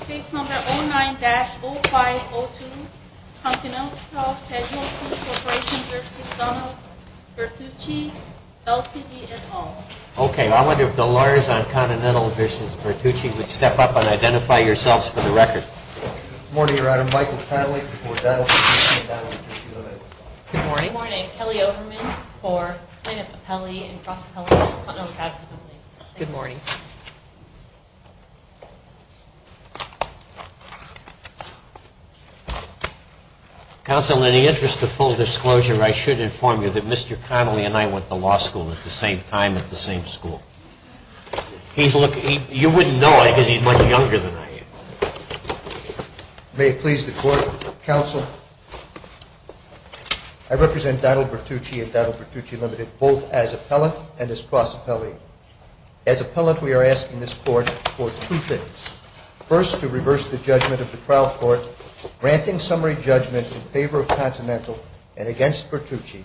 Case number 09-0502, Continental Casualty Corporation v. Donald Bertucci, LTD, et al. Okay, I wonder if the lawyers on Continental v. Bertucci would step up and identify yourselves for the record. Good morning, Your Honor. Michael Padley for Donald Bertucci and Donald Bertucci, Ltd. Good morning. Good morning. Kelly Overman for Plano Papelli and Frost Papelli, Continental Casualty Company. Good morning. Counsel, in the interest of full disclosure, I should inform you that Mr. Connolly and I went to law school at the same time at the same school. You wouldn't know it because he's much younger than I am. May it please the Court, Counsel, I represent Donald Bertucci and Donald Bertucci, Ltd. both as appellant and as Frost Papelli. As appellant, we are asking this Court for two things. First, to reverse the judgment of the trial court granting summary judgment in favor of Continental and against Bertucci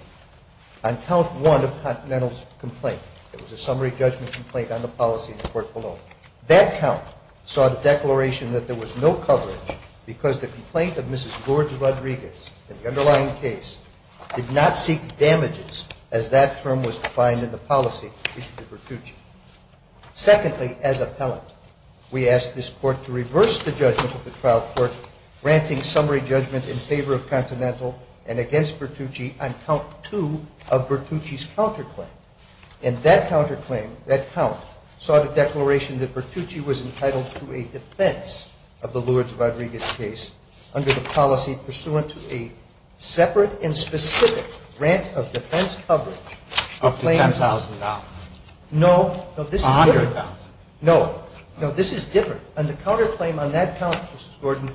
on count one of Continental's complaint. It was a summary judgment complaint on the policy in the court below. That count saw the declaration that there was no coverage because the complaint of Mrs. George Rodriguez in the underlying case did not seek damages as that term was defined in the policy issued to Bertucci. Secondly, as appellant, we ask this Court to reverse the judgment of the trial court granting summary judgment in favor of Continental and against Bertucci on count two of Bertucci's counterclaim. And that counterclaim, that count, saw the declaration that Bertucci was entitled to a defense of the Lourdes Rodriguez case under the policy pursuant to a separate and specific grant of defense coverage. Up to $10,000? No. $100,000? No. No, this is different. On the counterclaim on that count, Mrs. Gordon,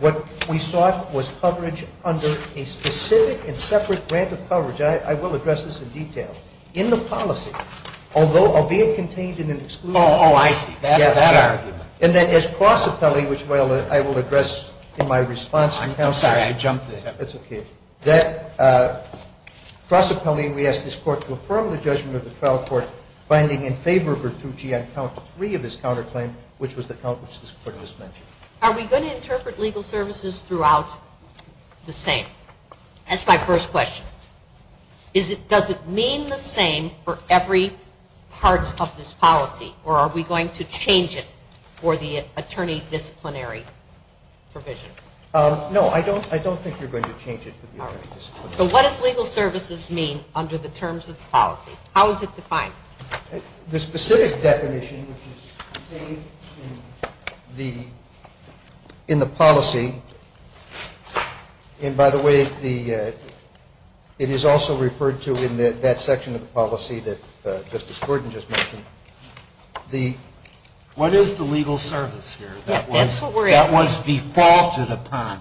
what we sought was coverage under a specific and separate grant of coverage. I will address this in detail. In the policy, although albeit contained in an exclusive grant. Oh, I see. That argument. And then as cross appellee, which I will address in my response from counsel. I'm sorry. I jumped in. That's okay. Cross appellee, we ask this Court to affirm the judgment of the trial court finding in favor of Bertucci on count three of his counterclaim, which was the count which this Court has mentioned. Are we going to interpret legal services throughout the same? That's my first question. Does it mean the same for every part of this policy, or are we going to change it for the attorney disciplinary provision? No, I don't think you're going to change it for the attorney disciplinary provision. So what does legal services mean under the terms of the policy? How is it defined? The specific definition, which is contained in the policy, and by the way, it is also referred to in that section of the policy that Justice Gordon just mentioned. What is the legal service here? That's what we're asking. That was defaulted upon.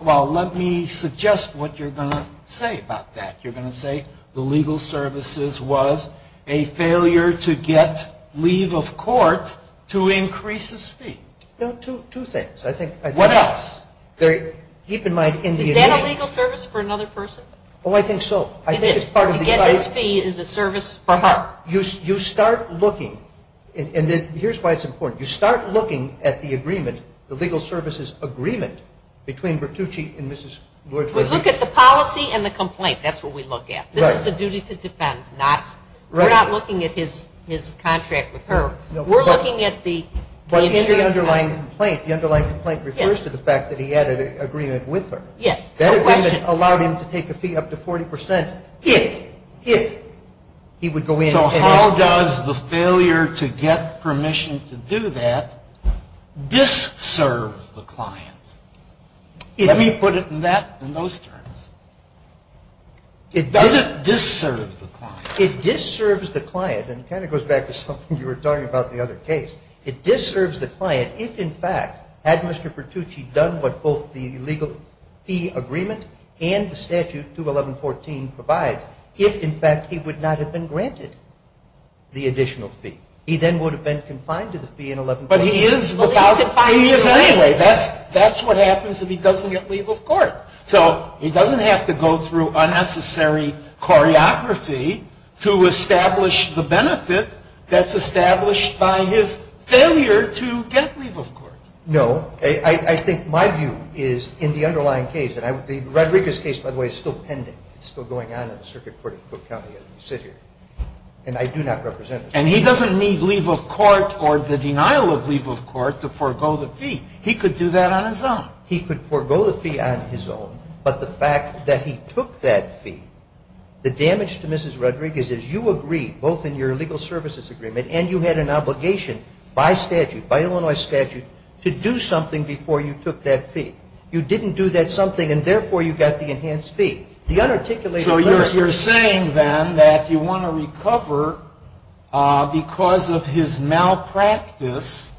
Well, let me suggest what you're going to say about that. You're going to say the legal services was a failure to get leave of court to increase his fee. No, two things. What else? Keep in mind in the agreement. Is that a legal service for another person? Oh, I think so. It is. To get this fee is a service for her. You start looking, and here's why it's important. You start looking at the agreement, the legal services agreement, between Bertucci and Mrs. Lloyd-Woodley. You look at the policy and the complaint. That's what we look at. This is a duty to defend. We're not looking at his contract with her. We're looking at the insurance company. But in the underlying complaint, the underlying complaint refers to the fact that he had an agreement with her. Yes. That agreement allowed him to take a fee up to 40% if he would go in. So how does the failure to get permission to do that dis-serve the client? Let me put it in those terms. Does it dis-serve the client? It dis-serves the client, and it kind of goes back to something you were talking about in the other case. It dis-serves the client if, in fact, had Mr. Bertucci done what both the legal fee agreement and the statute 211.14 provides, if, in fact, he would not have been granted the additional fee. He then would have been confined to the fee in 1114. But he is without a fee anyway. That's what happens if he doesn't get leave of court. So he doesn't have to go through unnecessary choreography to establish the benefit that's established by his failure to get leave of court. No. I think my view is in the underlying case. And the Rodriguez case, by the way, is still pending. It's still going on in the circuit court in Cook County as we sit here. And I do not represent it. And he doesn't need leave of court or the denial of leave of court to forego the fee. He could do that on his own. He could forego the fee on his own. But the fact that he took that fee, the damage to Mrs. Rodriguez is you agreed, both in your legal services agreement and you had an obligation by statute, by Illinois statute, to do something before you took that fee. You didn't do that something, and, therefore, you got the enhanced fee. The unarticulated verdict. So you're saying, then, that you want to recover because of his malpractice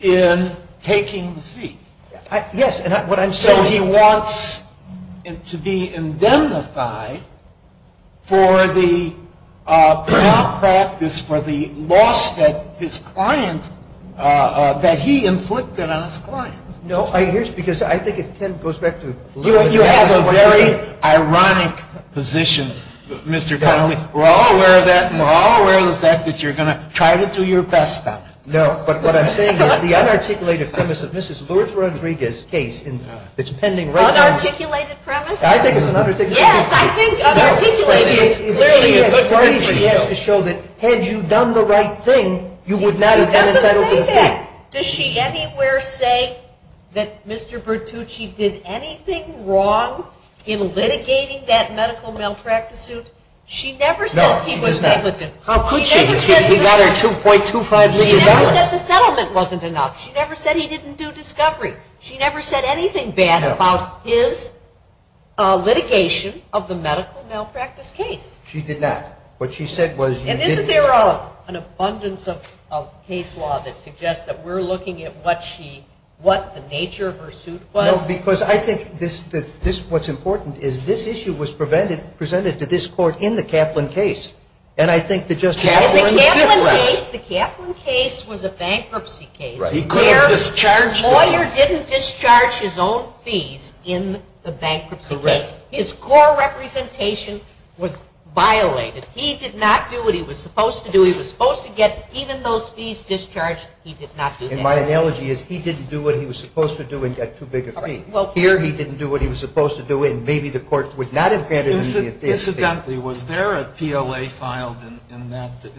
in taking the fee. Yes. So he wants to be indemnified for the malpractice, for the loss that his client, that he inflicted on his client. No. You have a very ironic position, Mr. Connelly. We're all aware of that. And we're all aware of the fact that you're going to try to do your best now. No. But what I'm saying is the unarticulated premise of Mrs. Lourdes Rodriguez's case, it's pending right now. Unarticulated premise? I think it's an unarticulated premise. Yes. I think unarticulated is clearly a good thing. He has to show that had you done the right thing, you would not have been entitled to the fee. Does she anywhere say that Mr. Bertucci did anything wrong in litigating that medical malpractice suit? No, she does not. She never says he was negligent. How could she? She got her $2.25 million. She never said the settlement wasn't enough. She never said he didn't do discovery. She never said anything bad about his litigation of the medical malpractice case. She did not. And isn't there an abundance of case law that suggests that we're looking at what the nature of her suit was? No, because I think what's important is this issue was presented to this court in the Kaplan case. And I think the Justice… In the Kaplan case, the Kaplan case was a bankruptcy case. The lawyer didn't discharge his own fees in the bankruptcy case. Correct. His core representation was violated. He did not do what he was supposed to do. He was supposed to get even those fees discharged. He did not do that. And my analogy is he didn't do what he was supposed to do and got too big a fee. Here, he didn't do what he was supposed to do, and maybe the court would not have granted him the advantage. Incidentally, was there a PLA filed in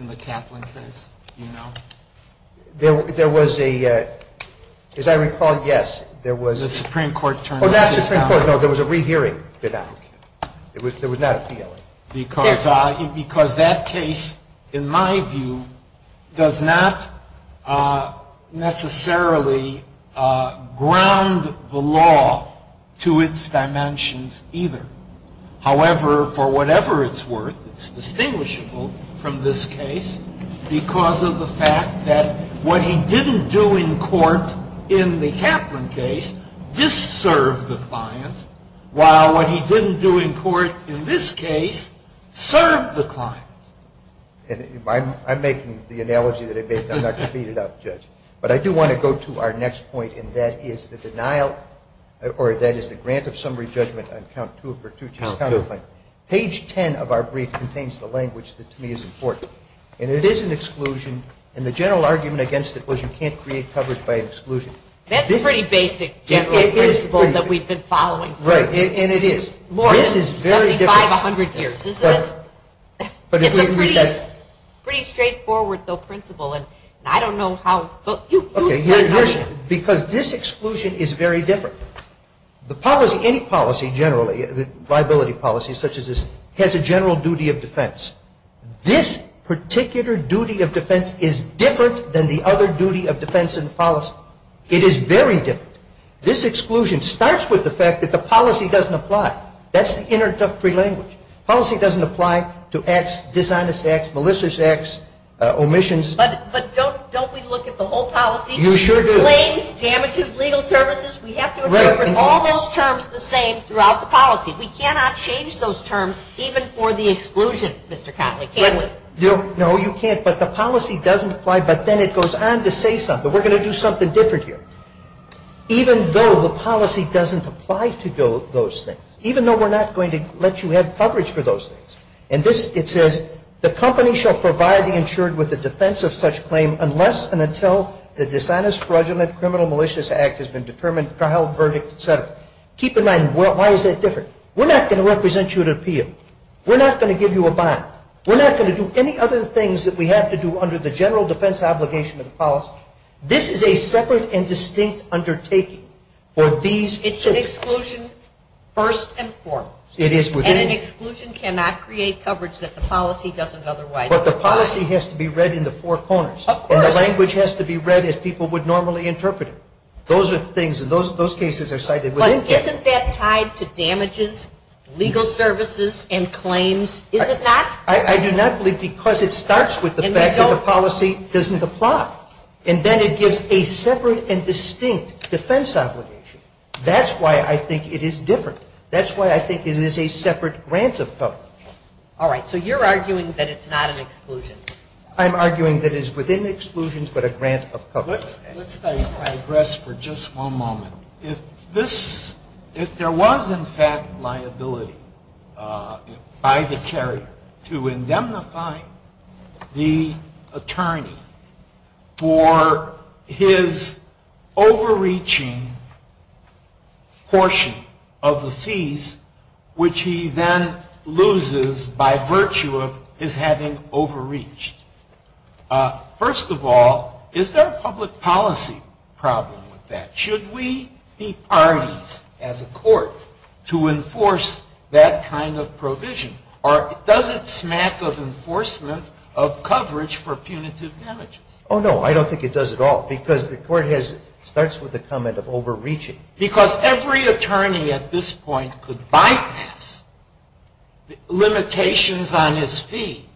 the Kaplan case? Do you know? There was a – as I recall, yes, there was. The Supreme Court turned that case down. Oh, not the Supreme Court. No, there was a rehearing bid out. There was not a PLA. Because that case, in my view, does not necessarily ground the law to its dimensions either. However, for whatever it's worth, it's distinguishable from this case because of the fact that what he didn't do in court in the Kaplan case dis-served the client, while what he didn't do in court in this case served the client. I'm making the analogy that I made. I'm not going to beat it up, Judge. But I do want to go to our next point, and that is the denial – or that is the grant of summary judgment on count two of Pertucci's counterclaim. Page 10 of our brief contains the language that to me is important. And it is an exclusion. And the general argument against it was you can't create coverage by exclusion. That's a pretty basic general principle that we've been following. Right, and it is. More than 7,500 years, isn't it? It's a pretty straightforward, though, principle, and I don't know how – Okay, here's – because this exclusion is very different. The policy – any policy generally, liability policy such as this, has a general duty of defense. This particular duty of defense is different than the other duty of defense in the policy. It is very different. This exclusion starts with the fact that the policy doesn't apply. That's the introductory language. Policy doesn't apply to acts, dishonest acts, malicious acts, omissions. But don't we look at the whole policy? You sure do. Claims, damages, legal services. We have to interpret all those terms the same throughout the policy. We cannot change those terms even for the exclusion, Mr. Connolly, can we? No, you can't. But the policy doesn't apply. But then it goes on to say something. We're going to do something different here. Even though the policy doesn't apply to those things, even though we're not going to let you have coverage for those things. And this – it says, the company shall provide the insured with a defense of such claim unless and until the dishonest, fraudulent, criminal, malicious act has been determined, trial, verdict, et cetera. Keep in mind, why is that different? We're not going to represent you at an appeal. We're not going to give you a bond. We're not going to do any other things that we have to do under the general defense obligation of the policy. This is a separate and distinct undertaking for these groups. It's an exclusion first and foremost. It is within. And an exclusion cannot create coverage that the policy doesn't otherwise provide. But the policy has to be read in the four corners. Of course. And the language has to be read as people would normally interpret it. Those are things – those cases are cited within. But isn't that tied to damages, legal services, and claims? Is it not? I do not believe – because it starts with the fact that the policy doesn't apply. And then it gives a separate and distinct defense obligation. That's why I think it is different. That's why I think it is a separate grant of coverage. All right. So you're arguing that it's not an exclusion. I'm arguing that it is within exclusions but a grant of coverage. Let's digress for just one moment. If there was, in fact, liability by the carrier to indemnify the attorney for his overreaching portion of the fees, which he then loses by virtue of his having overreached, first of all, is there a public policy problem with that? Should we be parties as a court to enforce that kind of provision? Or does it smack of enforcement of coverage for punitive damages? Oh, no. I don't think it does at all. Because the court has – starts with the comment of overreaching. Because every attorney at this point could bypass the limitations on his fee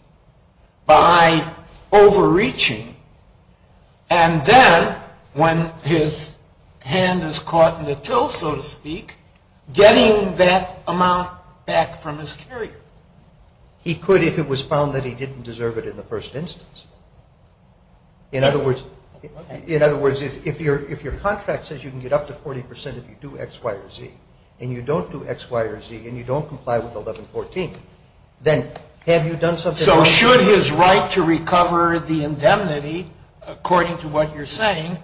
by overreaching. And then when his hand is caught in the till, so to speak, getting that amount back from his carrier. He could if it was found that he didn't deserve it in the first instance. In other words, if your contract says you can get up to 40 percent if you do X, Y, or Z, and you don't do X, Y, or Z, and you don't comply with 1114, then have you done something else? So should his right to recover the indemnity, according to what you're saying,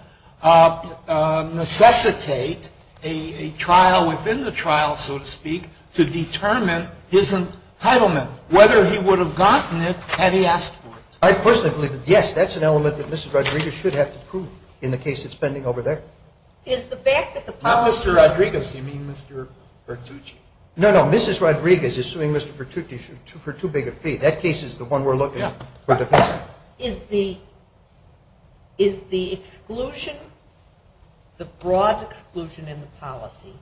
necessitate a trial within the trial, so to speak, to determine his entitlement, whether he would have gotten it had he asked for it? I personally believe that, yes, that's an element that Mrs. Rodriguez should have to prove in the case that's pending over there. Is the fact that the policy – Not Mr. Rodriguez. Do you mean Mr. Pertucci? No, no. Mrs. Rodriguez is suing Mr. Pertucci for too big a fee. That case is the one we're looking at for defense. Is the exclusion, the broad exclusion in the policy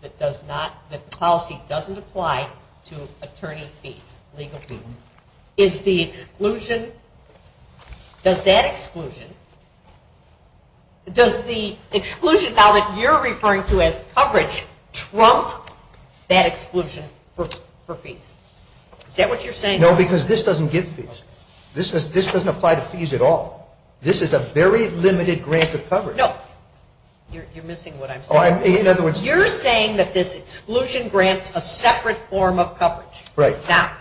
that does not – that the policy doesn't apply to attorney fees, legal fees, is the exclusion – does that exclusion – does the exclusion now that you're referring to as coverage trump that exclusion for fees? Is that what you're saying? No, because this doesn't give fees. This doesn't apply to fees at all. This is a very limited grant of coverage. No. You're missing what I'm saying. In other words – You're saying that this exclusion grants a separate form of coverage. Right. Now,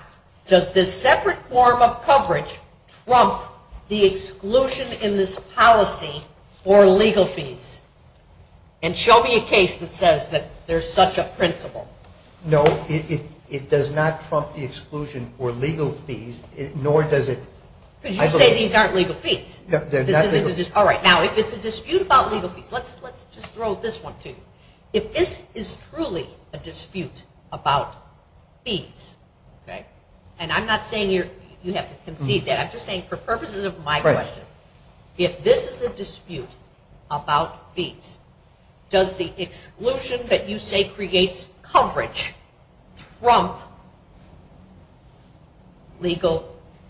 does this separate form of coverage trump the exclusion in this policy for legal fees? And show me a case that says that there's such a principle. No, it does not trump the exclusion for legal fees, nor does it – Because you say these aren't legal fees. No, they're not legal fees. All right. Now, if it's a dispute about legal fees – let's just throw this one to you. If this is truly a dispute about fees – and I'm not saying you have to concede that. I'm just saying for purposes of my question, if this is a dispute about fees, does the exclusion that you say creates coverage trump legal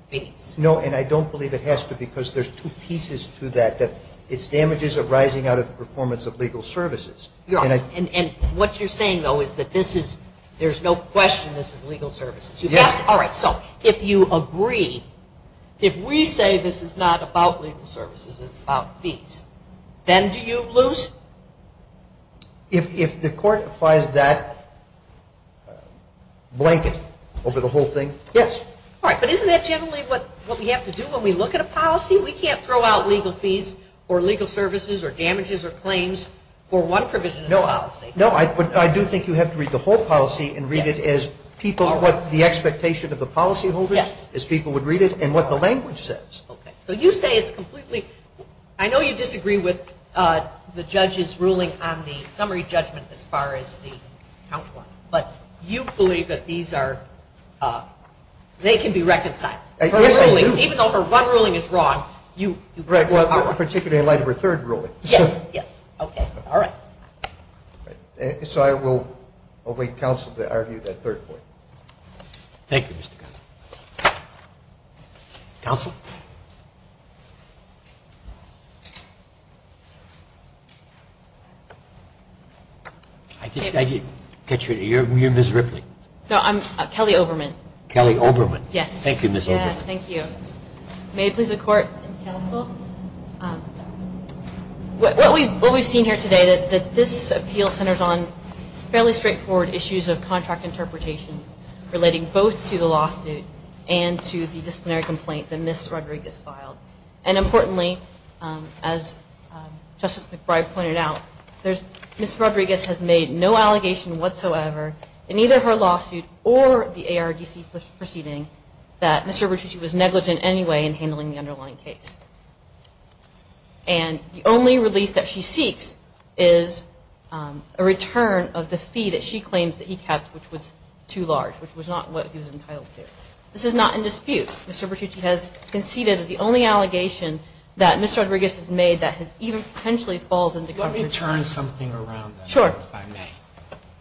fees? No, and I don't believe it has to because there's two pieces to that. Its damages are rising out of the performance of legal services. And what you're saying, though, is that there's no question this is legal services. All right. So if you agree, if we say this is not about legal services, it's about fees, then do you lose? If the court applies that blanket over the whole thing, yes. All right. But isn't that generally what we have to do when we look at a policy? We can't throw out legal fees or legal services or damages or claims for one provision of the policy. No, but I do think you have to read the whole policy and read it as people – what the expectation of the policyholders, as people would read it, and what the language says. Okay. So you say it's completely – I know you disagree with the judge's ruling on the summary judgment as far as the count one, but you believe that these are – they can be reconciled. Even though her one ruling is wrong, you – Right, well, particularly in light of her third ruling. Yes, yes. Okay. All right. So I will await counsel to argue that third point. Thank you, Mr. Connolly. Counsel? I didn't catch your name. You're Ms. Ripley? No, I'm Kelly Overman. Kelly Overman. Yes. Thank you, Ms. Overman. Yes, thank you. May it please the Court. Counsel? What we've seen here today, that this appeal centers on fairly straightforward issues of contract interpretations relating both to the lawsuit and to the disciplinary complaint that Ms. Rodriguez filed. And importantly, as Justice McBride pointed out, Ms. Rodriguez has made no allegation whatsoever in either her lawsuit or the ARDC proceeding that Mr. Bertucci was negligent in any way in handling the underlying case. And the only relief that she seeks is a return of the fee that she claims that he kept, which was too large, which was not what he was entitled to. This is not in dispute. Mr. Bertucci has conceded that the only allegation that Ms. Rodriguez has made that even potentially falls into coverage. Let me turn something around. Sure. If I may.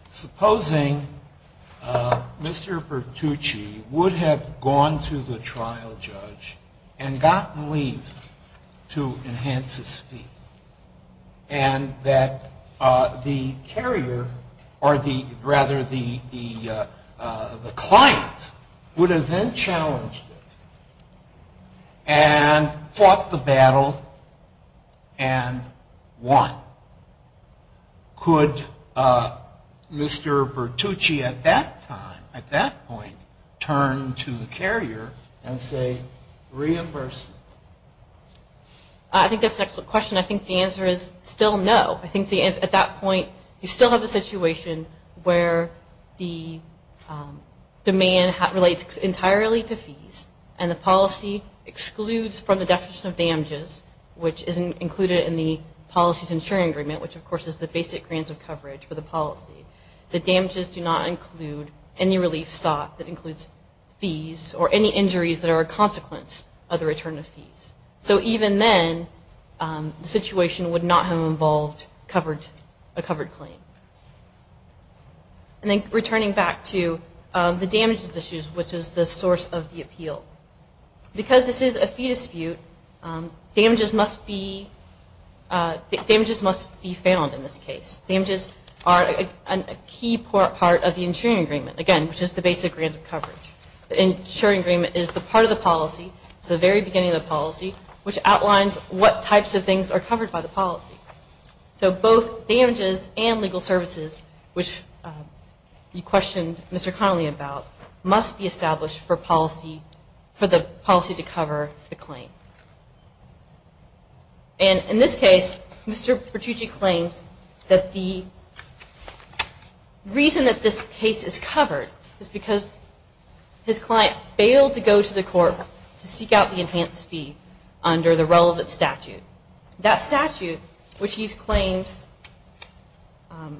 Supposing Mr. Bertucci would have gone to the trial judge and gotten leave to enhance his fee, and that the carrier, or rather the client, would have then challenged it and fought the battle and won. Could Mr. Bertucci at that time, at that point, turn to the carrier and say reimbursement? I think that's an excellent question. I think the answer is still no. I think at that point you still have a situation where the demand relates entirely to fees, and the policy excludes from the definition of damages, which is included in the policy's insuring agreement, which of course is the basic grant of coverage for the policy. The damages do not include any relief sought that includes fees or any injuries that are a consequence of the return of fees. So even then, the situation would not have involved a covered claim. And then returning back to the damages issues, which is the source of the appeal. Because this is a fee dispute, damages must be found in this case. Damages are a key part of the insuring agreement, again, which is the basic grant of coverage. The insuring agreement is the part of the policy, it's the very beginning of the policy, which outlines what types of things are covered by the policy. So both damages and legal services, which you questioned Mr. Connolly about, must be established for the policy to cover the claim. And in this case, Mr. Bertucci claims that the reason that this case is covered is because his client failed to go to the court to seek out the enhanced fee under the relevant statute. That statute, which he claims,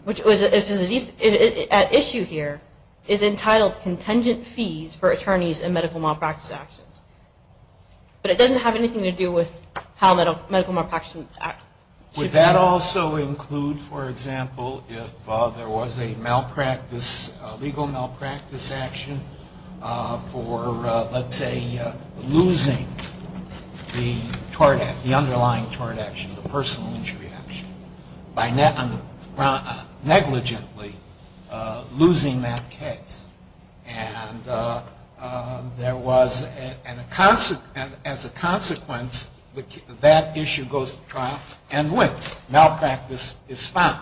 which was at issue here, is entitled contingent fees for attorneys in medical malpractice actions. But it doesn't have anything to do with how medical malpractice should be handled. Would that also include, for example, if there was a legal malpractice action for, let's say, losing the underlying tort action, the personal injury action, by negligently losing that case. And there was, as a consequence, that issue goes to trial and wins. Malpractice is found.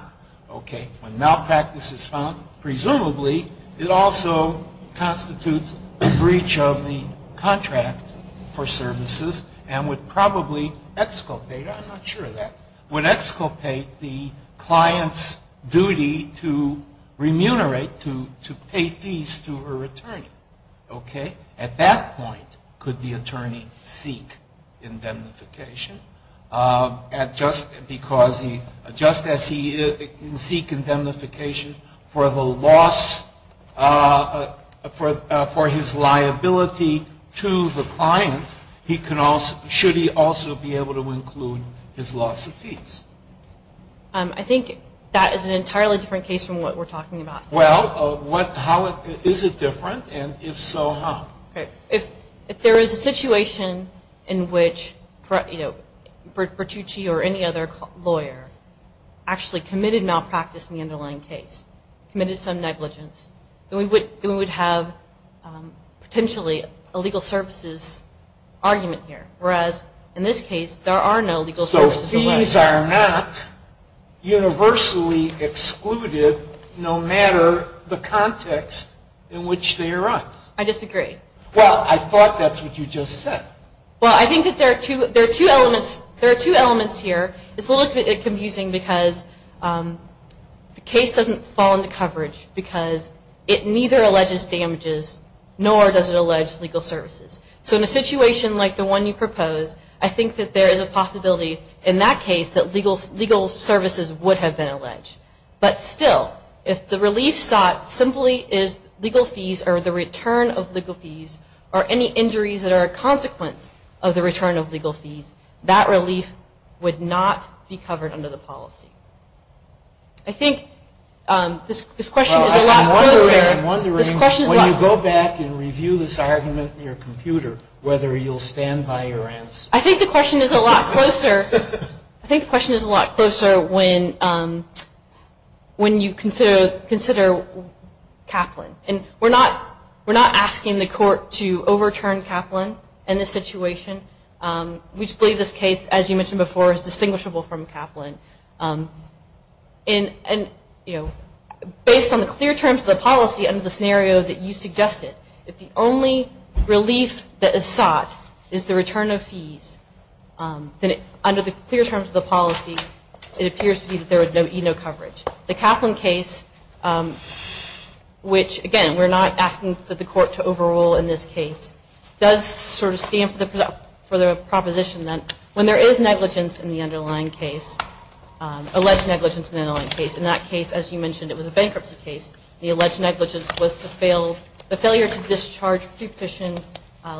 Malpractice is found. Presumably, it also constitutes a breach of the contract for services and would probably exculpate, I'm not sure of that, would exculpate the client's duty to remunerate, to pay fees to her attorney. At that point, could the attorney seek indemnification just as he can seek indemnification for the loss, for his liability to the client, should he also be able to include his loss of fees? I think that is an entirely different case from what we're talking about. Well, is it different? And if so, how? If there is a situation in which Bertucci or any other lawyer actually committed malpractice in the underlying case, committed some negligence, then we would have potentially a legal services argument here. Whereas, in this case, there are no legal services. So fees are not universally excluded no matter the context in which they arise. I disagree. Well, I thought that's what you just said. Well, I think that there are two elements here. It's a little confusing because the case doesn't fall into coverage because it neither alleges damages nor does it allege legal services. So in a situation like the one you proposed, I think that there is a possibility in that case that legal services would have been alleged. But still, if the relief sought simply is legal fees or the return of legal fees or any injuries that are a consequence of the return of legal fees, that relief would not be covered under the policy. I think this question is a lot closer. I'm wondering when you go back and review this argument in your computer whether you'll stand by your answer. I think the question is a lot closer. I think the question is a lot closer when you consider Kaplan. We're not asking the court to overturn Kaplan in this situation. We just believe this case, as you mentioned before, is distinguishable from Kaplan. Based on the clear terms of the policy under the scenario that you suggested, if the only relief that is sought is the return of fees, then under the clear terms of the policy it appears to be that there would be no coverage. The Kaplan case, which, again, we're not asking the court to overrule in this case, does sort of stand for the proposition that when there is negligence in the underlying case, alleged negligence in the underlying case, in that case, as you mentioned, it was a bankruptcy case, the alleged negligence was the failure to discharge pre-petition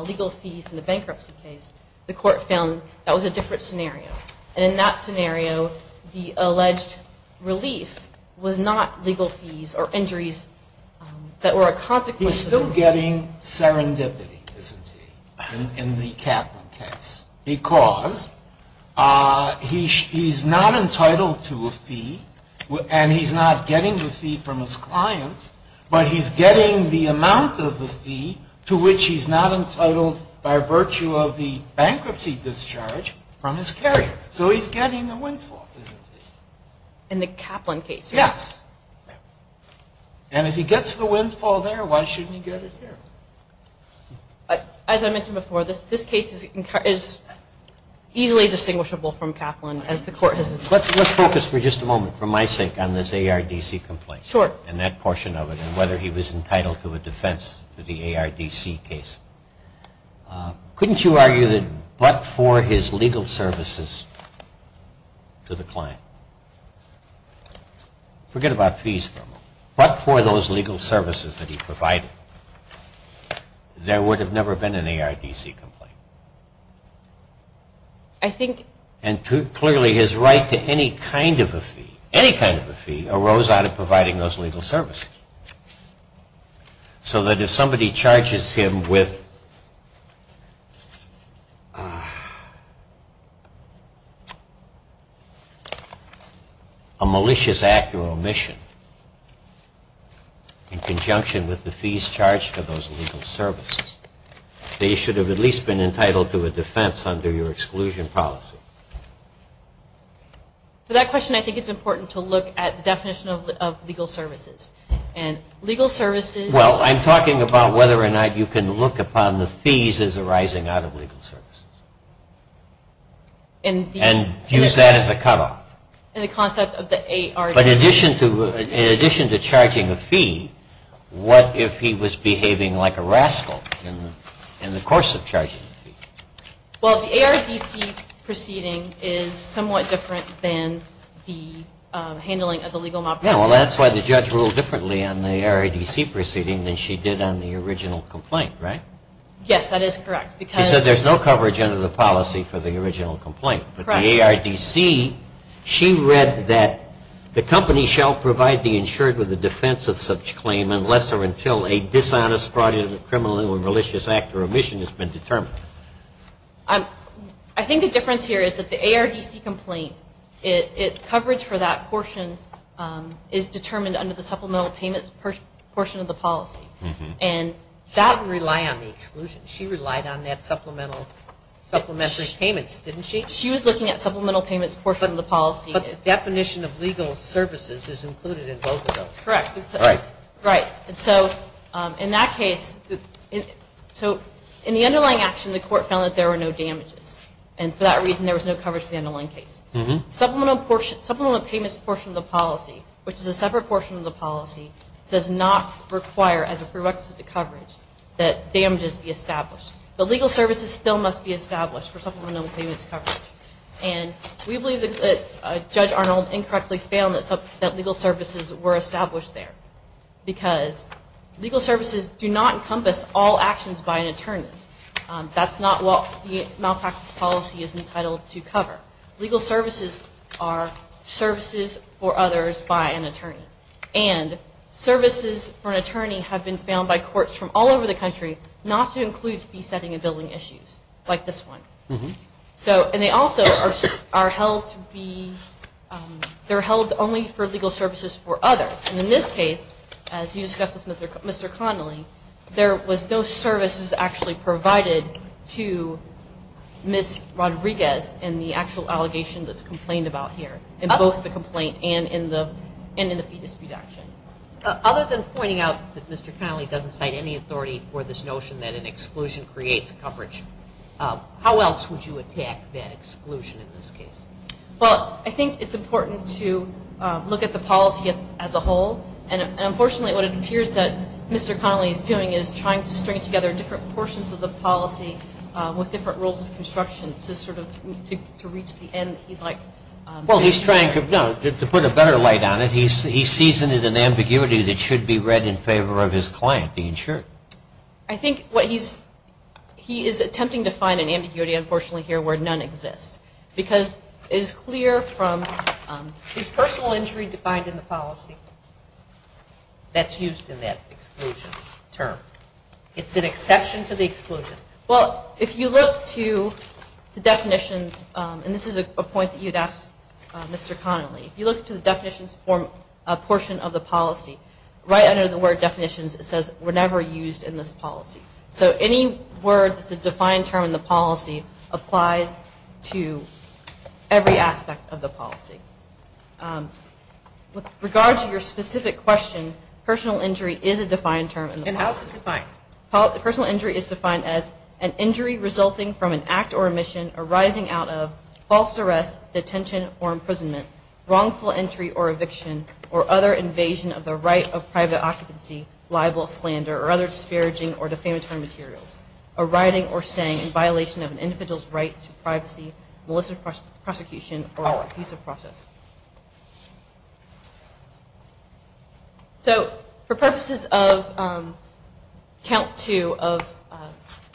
legal fees in the bankruptcy case. The court found that was a different scenario. And in that scenario, the alleged relief was not legal fees or injuries that were a consequence. He's still getting serendipity, isn't he, in the Kaplan case, because he's not entitled to a fee and he's not getting the fee from his client, but he's getting the amount of the fee to which he's not entitled by virtue of the bankruptcy discharge from his carrier. So he's getting the windfall, isn't he? In the Kaplan case, right? Yes. And if he gets the windfall there, why shouldn't he get it here? As I mentioned before, this case is easily distinguishable from Kaplan as the court has. Let's focus for just a moment, for my sake, on this ARDC complaint. Sure. And that portion of it and whether he was entitled to a defense for the ARDC case. Couldn't you argue that but for his legal services to the client? Forget about fees for a moment. But for those legal services that he provided, there would have never been an ARDC complaint. I think... And clearly his right to any kind of a fee, any kind of a fee, arose out of providing those legal services. So that if somebody charges him with a malicious act or omission in conjunction with the fees charged for those legal services, they should have at least been entitled to a defense under your exclusion policy. For that question, I think it's important to look at the definition of legal services. And legal services... Well, I'm talking about whether or not you can look upon the fees as arising out of legal services. And use that as a cutoff. And the concept of the ARDC... But in addition to charging a fee, what if he was behaving like a rascal in the course of charging a fee? Well, the ARDC proceeding is somewhat different than the handling of the legal malpractice. Yeah, well, that's why the judge ruled differently on the ARDC proceeding than she did on the original complaint, right? Yes, that is correct because... She said there's no coverage under the policy for the original complaint. Correct. But the ARDC, she read that the company shall provide the insured with a defense of such claim unless or until a dishonest, fraudulent, criminal, or malicious act or omission has been determined. I think the difference here is that the ARDC complaint, coverage for that portion is determined under the supplemental payments portion of the policy. And that... She didn't rely on the exclusion. She relied on that supplemental payments, didn't she? She was looking at supplemental payments portion of the policy. But the definition of legal services is included in both of those. Correct. Right. And so in that case, so in the underlying action, the court found that there were no damages. And for that reason, there was no coverage in the underlying case. Supplemental payments portion of the policy, which is a separate portion of the policy, does not require as a prerequisite to coverage that damages be established. But legal services still must be established for supplemental payments coverage. And we believe that Judge Arnold incorrectly found that legal services were established there. Because legal services do not encompass all actions by an attorney. That's not what the malpractice policy is entitled to cover. Legal services are services for others by an attorney. And services for an attorney have been found by courts from all over the country not to include besetting and billing issues like this one. And they also are held to be, they're held only for legal services for others. And in this case, as you discussed with Mr. Connolly, there was no services actually provided to Ms. Rodriguez in the actual allegation that's complained about here, in both the complaint and in the fee dispute action. Other than pointing out that Mr. Connolly doesn't cite any authority for this notion that an exclusion creates coverage, how else would you attack that exclusion in this case? Well, I think it's important to look at the policy as a whole. And unfortunately, what it appears that Mr. Connolly is doing is trying to string together different portions of the policy with different rules of construction to sort of reach the end he'd like. Well, he's trying to put a better light on it. He's seasoned an ambiguity that should be read in favor of his client, the insurer. I think what he's, he is attempting to find an ambiguity, unfortunately, here where none exists. Because it is clear from his personal injury defined in the policy that's used in that exclusion term. It's an exception to the exclusion. Well, if you look to the definitions, and this is a point that you'd ask Mr. Connolly, if you look to the definitions for a portion of the policy, right under the word definitions, it says we're never used in this policy. So any word that's a defined term in the policy applies to every aspect of the policy. With regard to your specific question, personal injury is a defined term in the policy. And how is it defined? Personal injury is defined as an injury resulting from an act or omission arising out of false arrest, detention or imprisonment, wrongful entry or eviction, or other invasion of the right of private occupancy, libel, slander, or other disparaging or defamatory materials, a writing or saying in violation of an individual's right to privacy, malicious prosecution, or abusive process. So for purposes of count two of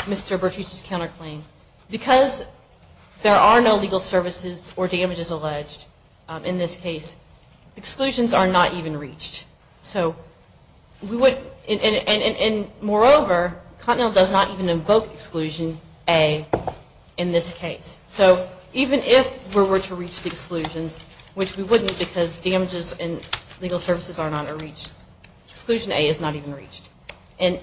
Mr. Bertucci's counterclaim, because there are no legal services or damages alleged in this case, exclusions are not even reached. And moreover, Continental does not even invoke exclusion A in this case. So even if we were to reach the exclusions, which we wouldn't because damages and legal services are not reached, exclusion A is not even reached. And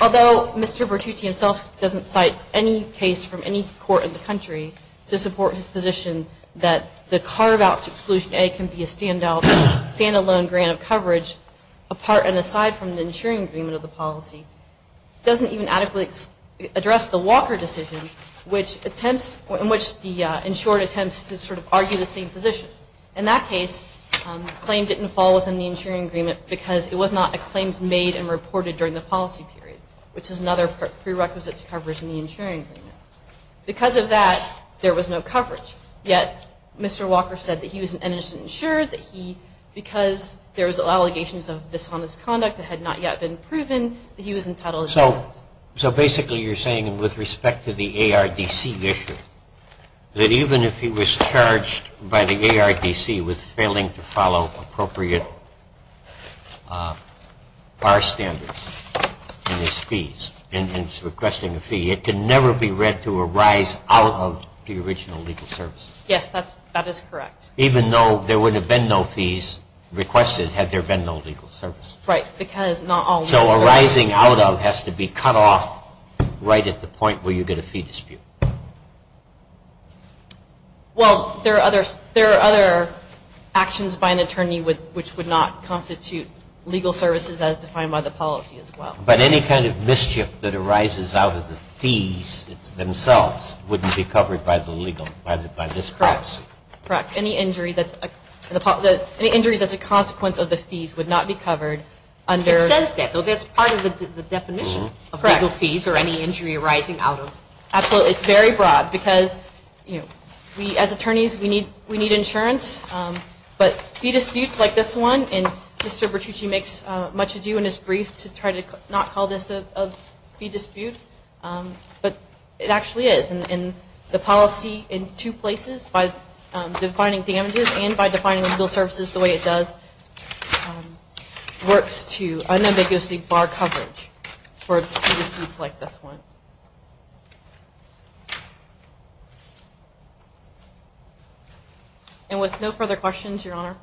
although Mr. Bertucci himself doesn't cite any case from any court in the country to support his position that the carve-out to exclusion A can be a stand-alone grant of coverage, apart and aside from the insuring agreement of the policy, it doesn't even adequately address the Walker decision, in which the insured attempts to sort of argue the same position. In that case, the claim didn't fall within the insuring agreement because it was not a claim made and reported during the policy period, which is another prerequisite to coverage in the insuring agreement. Because of that, there was no coverage. Yet Mr. Walker said that he was an innocent insured, that he, because there was allegations of dishonest conduct that had not yet been proven, that he was entitled to coverage. So basically you're saying, with respect to the ARDC issue, that even if he was charged by the ARDC with failing to follow appropriate bar standards in his fees, in his requesting a fee, it can never be read to arise out of the original legal services? Yes, that is correct. Even though there would have been no fees requested had there been no legal services? Right, because not all legal services. So arising out of has to be cut off right at the point where you get a fee dispute? Well, there are other actions by an attorney which would not constitute legal services as defined by the policy as well. But any kind of mischief that arises out of the fees themselves wouldn't be covered by the legal, by this policy? Correct. Any injury that's a consequence of the fees would not be covered under- It says that, though. That's part of the definition of legal fees, or any injury arising out of- Absolutely. It's very broad, because we, as attorneys, we need insurance. But fee disputes like this one, and Mr. Bertucci makes much ado in his brief to try to not call this a fee dispute, but it actually is. And the policy in two places, by defining damages and by defining legal services the way it does, works to unambiguously bar coverage for fee disputes like this one. And with no further questions, Your Honor?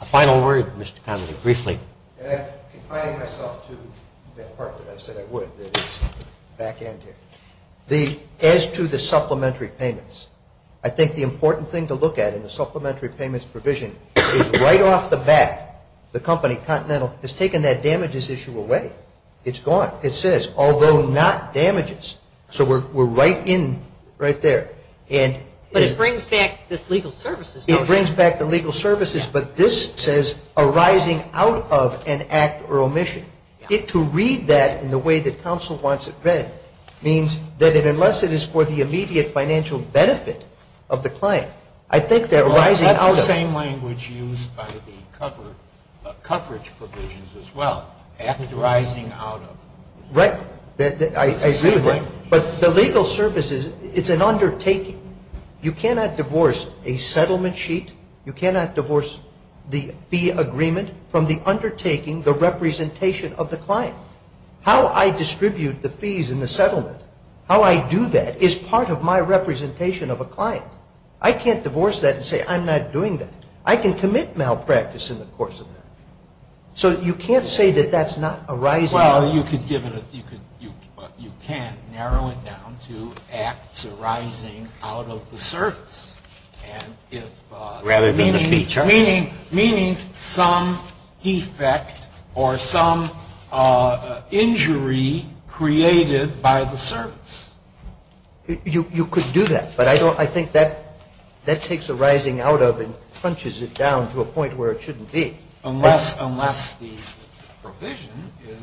A final word, Mr. Connolly, briefly. Confining myself to that part that I said I would, the back end here. As to the supplementary payments, I think the important thing to look at in the supplementary payments provision is right off the bat, the company, Continental, has taken that damages issue away. It's gone. It says, although not damages. So we're right in, right there. But it brings back this legal services notion. It brings back the legal services, but this says arising out of an act or omission. To read that in the way that counsel wants it read means that unless it is for the immediate financial benefit of the client, I think that arising out of it. Well, that's the same language used by the coverage provisions as well. Act arising out of. I agree with that. It's the same language. But the legal services, it's an undertaking. You cannot divorce a settlement sheet. You cannot divorce the fee agreement from the undertaking, the representation of the client. How I distribute the fees in the settlement, how I do that is part of my representation of a client. I can't divorce that and say I'm not doing that. I can commit malpractice in the course of that. So you can't say that that's not arising out. Well, you can narrow it down to acts arising out of the service. Rather than the fee charge. Meaning some defect or some injury created by the service. You could do that. But I think that takes arising out of and crunches it down to a point where it shouldn't be. Unless the provision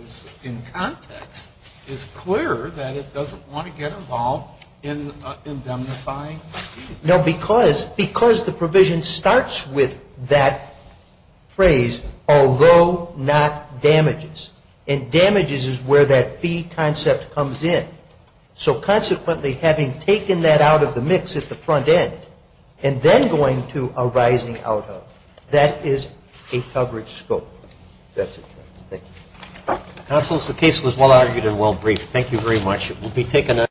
is in context. It's clear that it doesn't want to get involved in indemnifying. No, because the provision starts with that phrase, although not damages. And damages is where that fee concept comes in. So consequently, having taken that out of the mix at the front end and then going to arising out of, that is a coverage scope. That's it. Thank you. Counsel, the case was well argued and well briefed. Thank you very much. We'll be taking a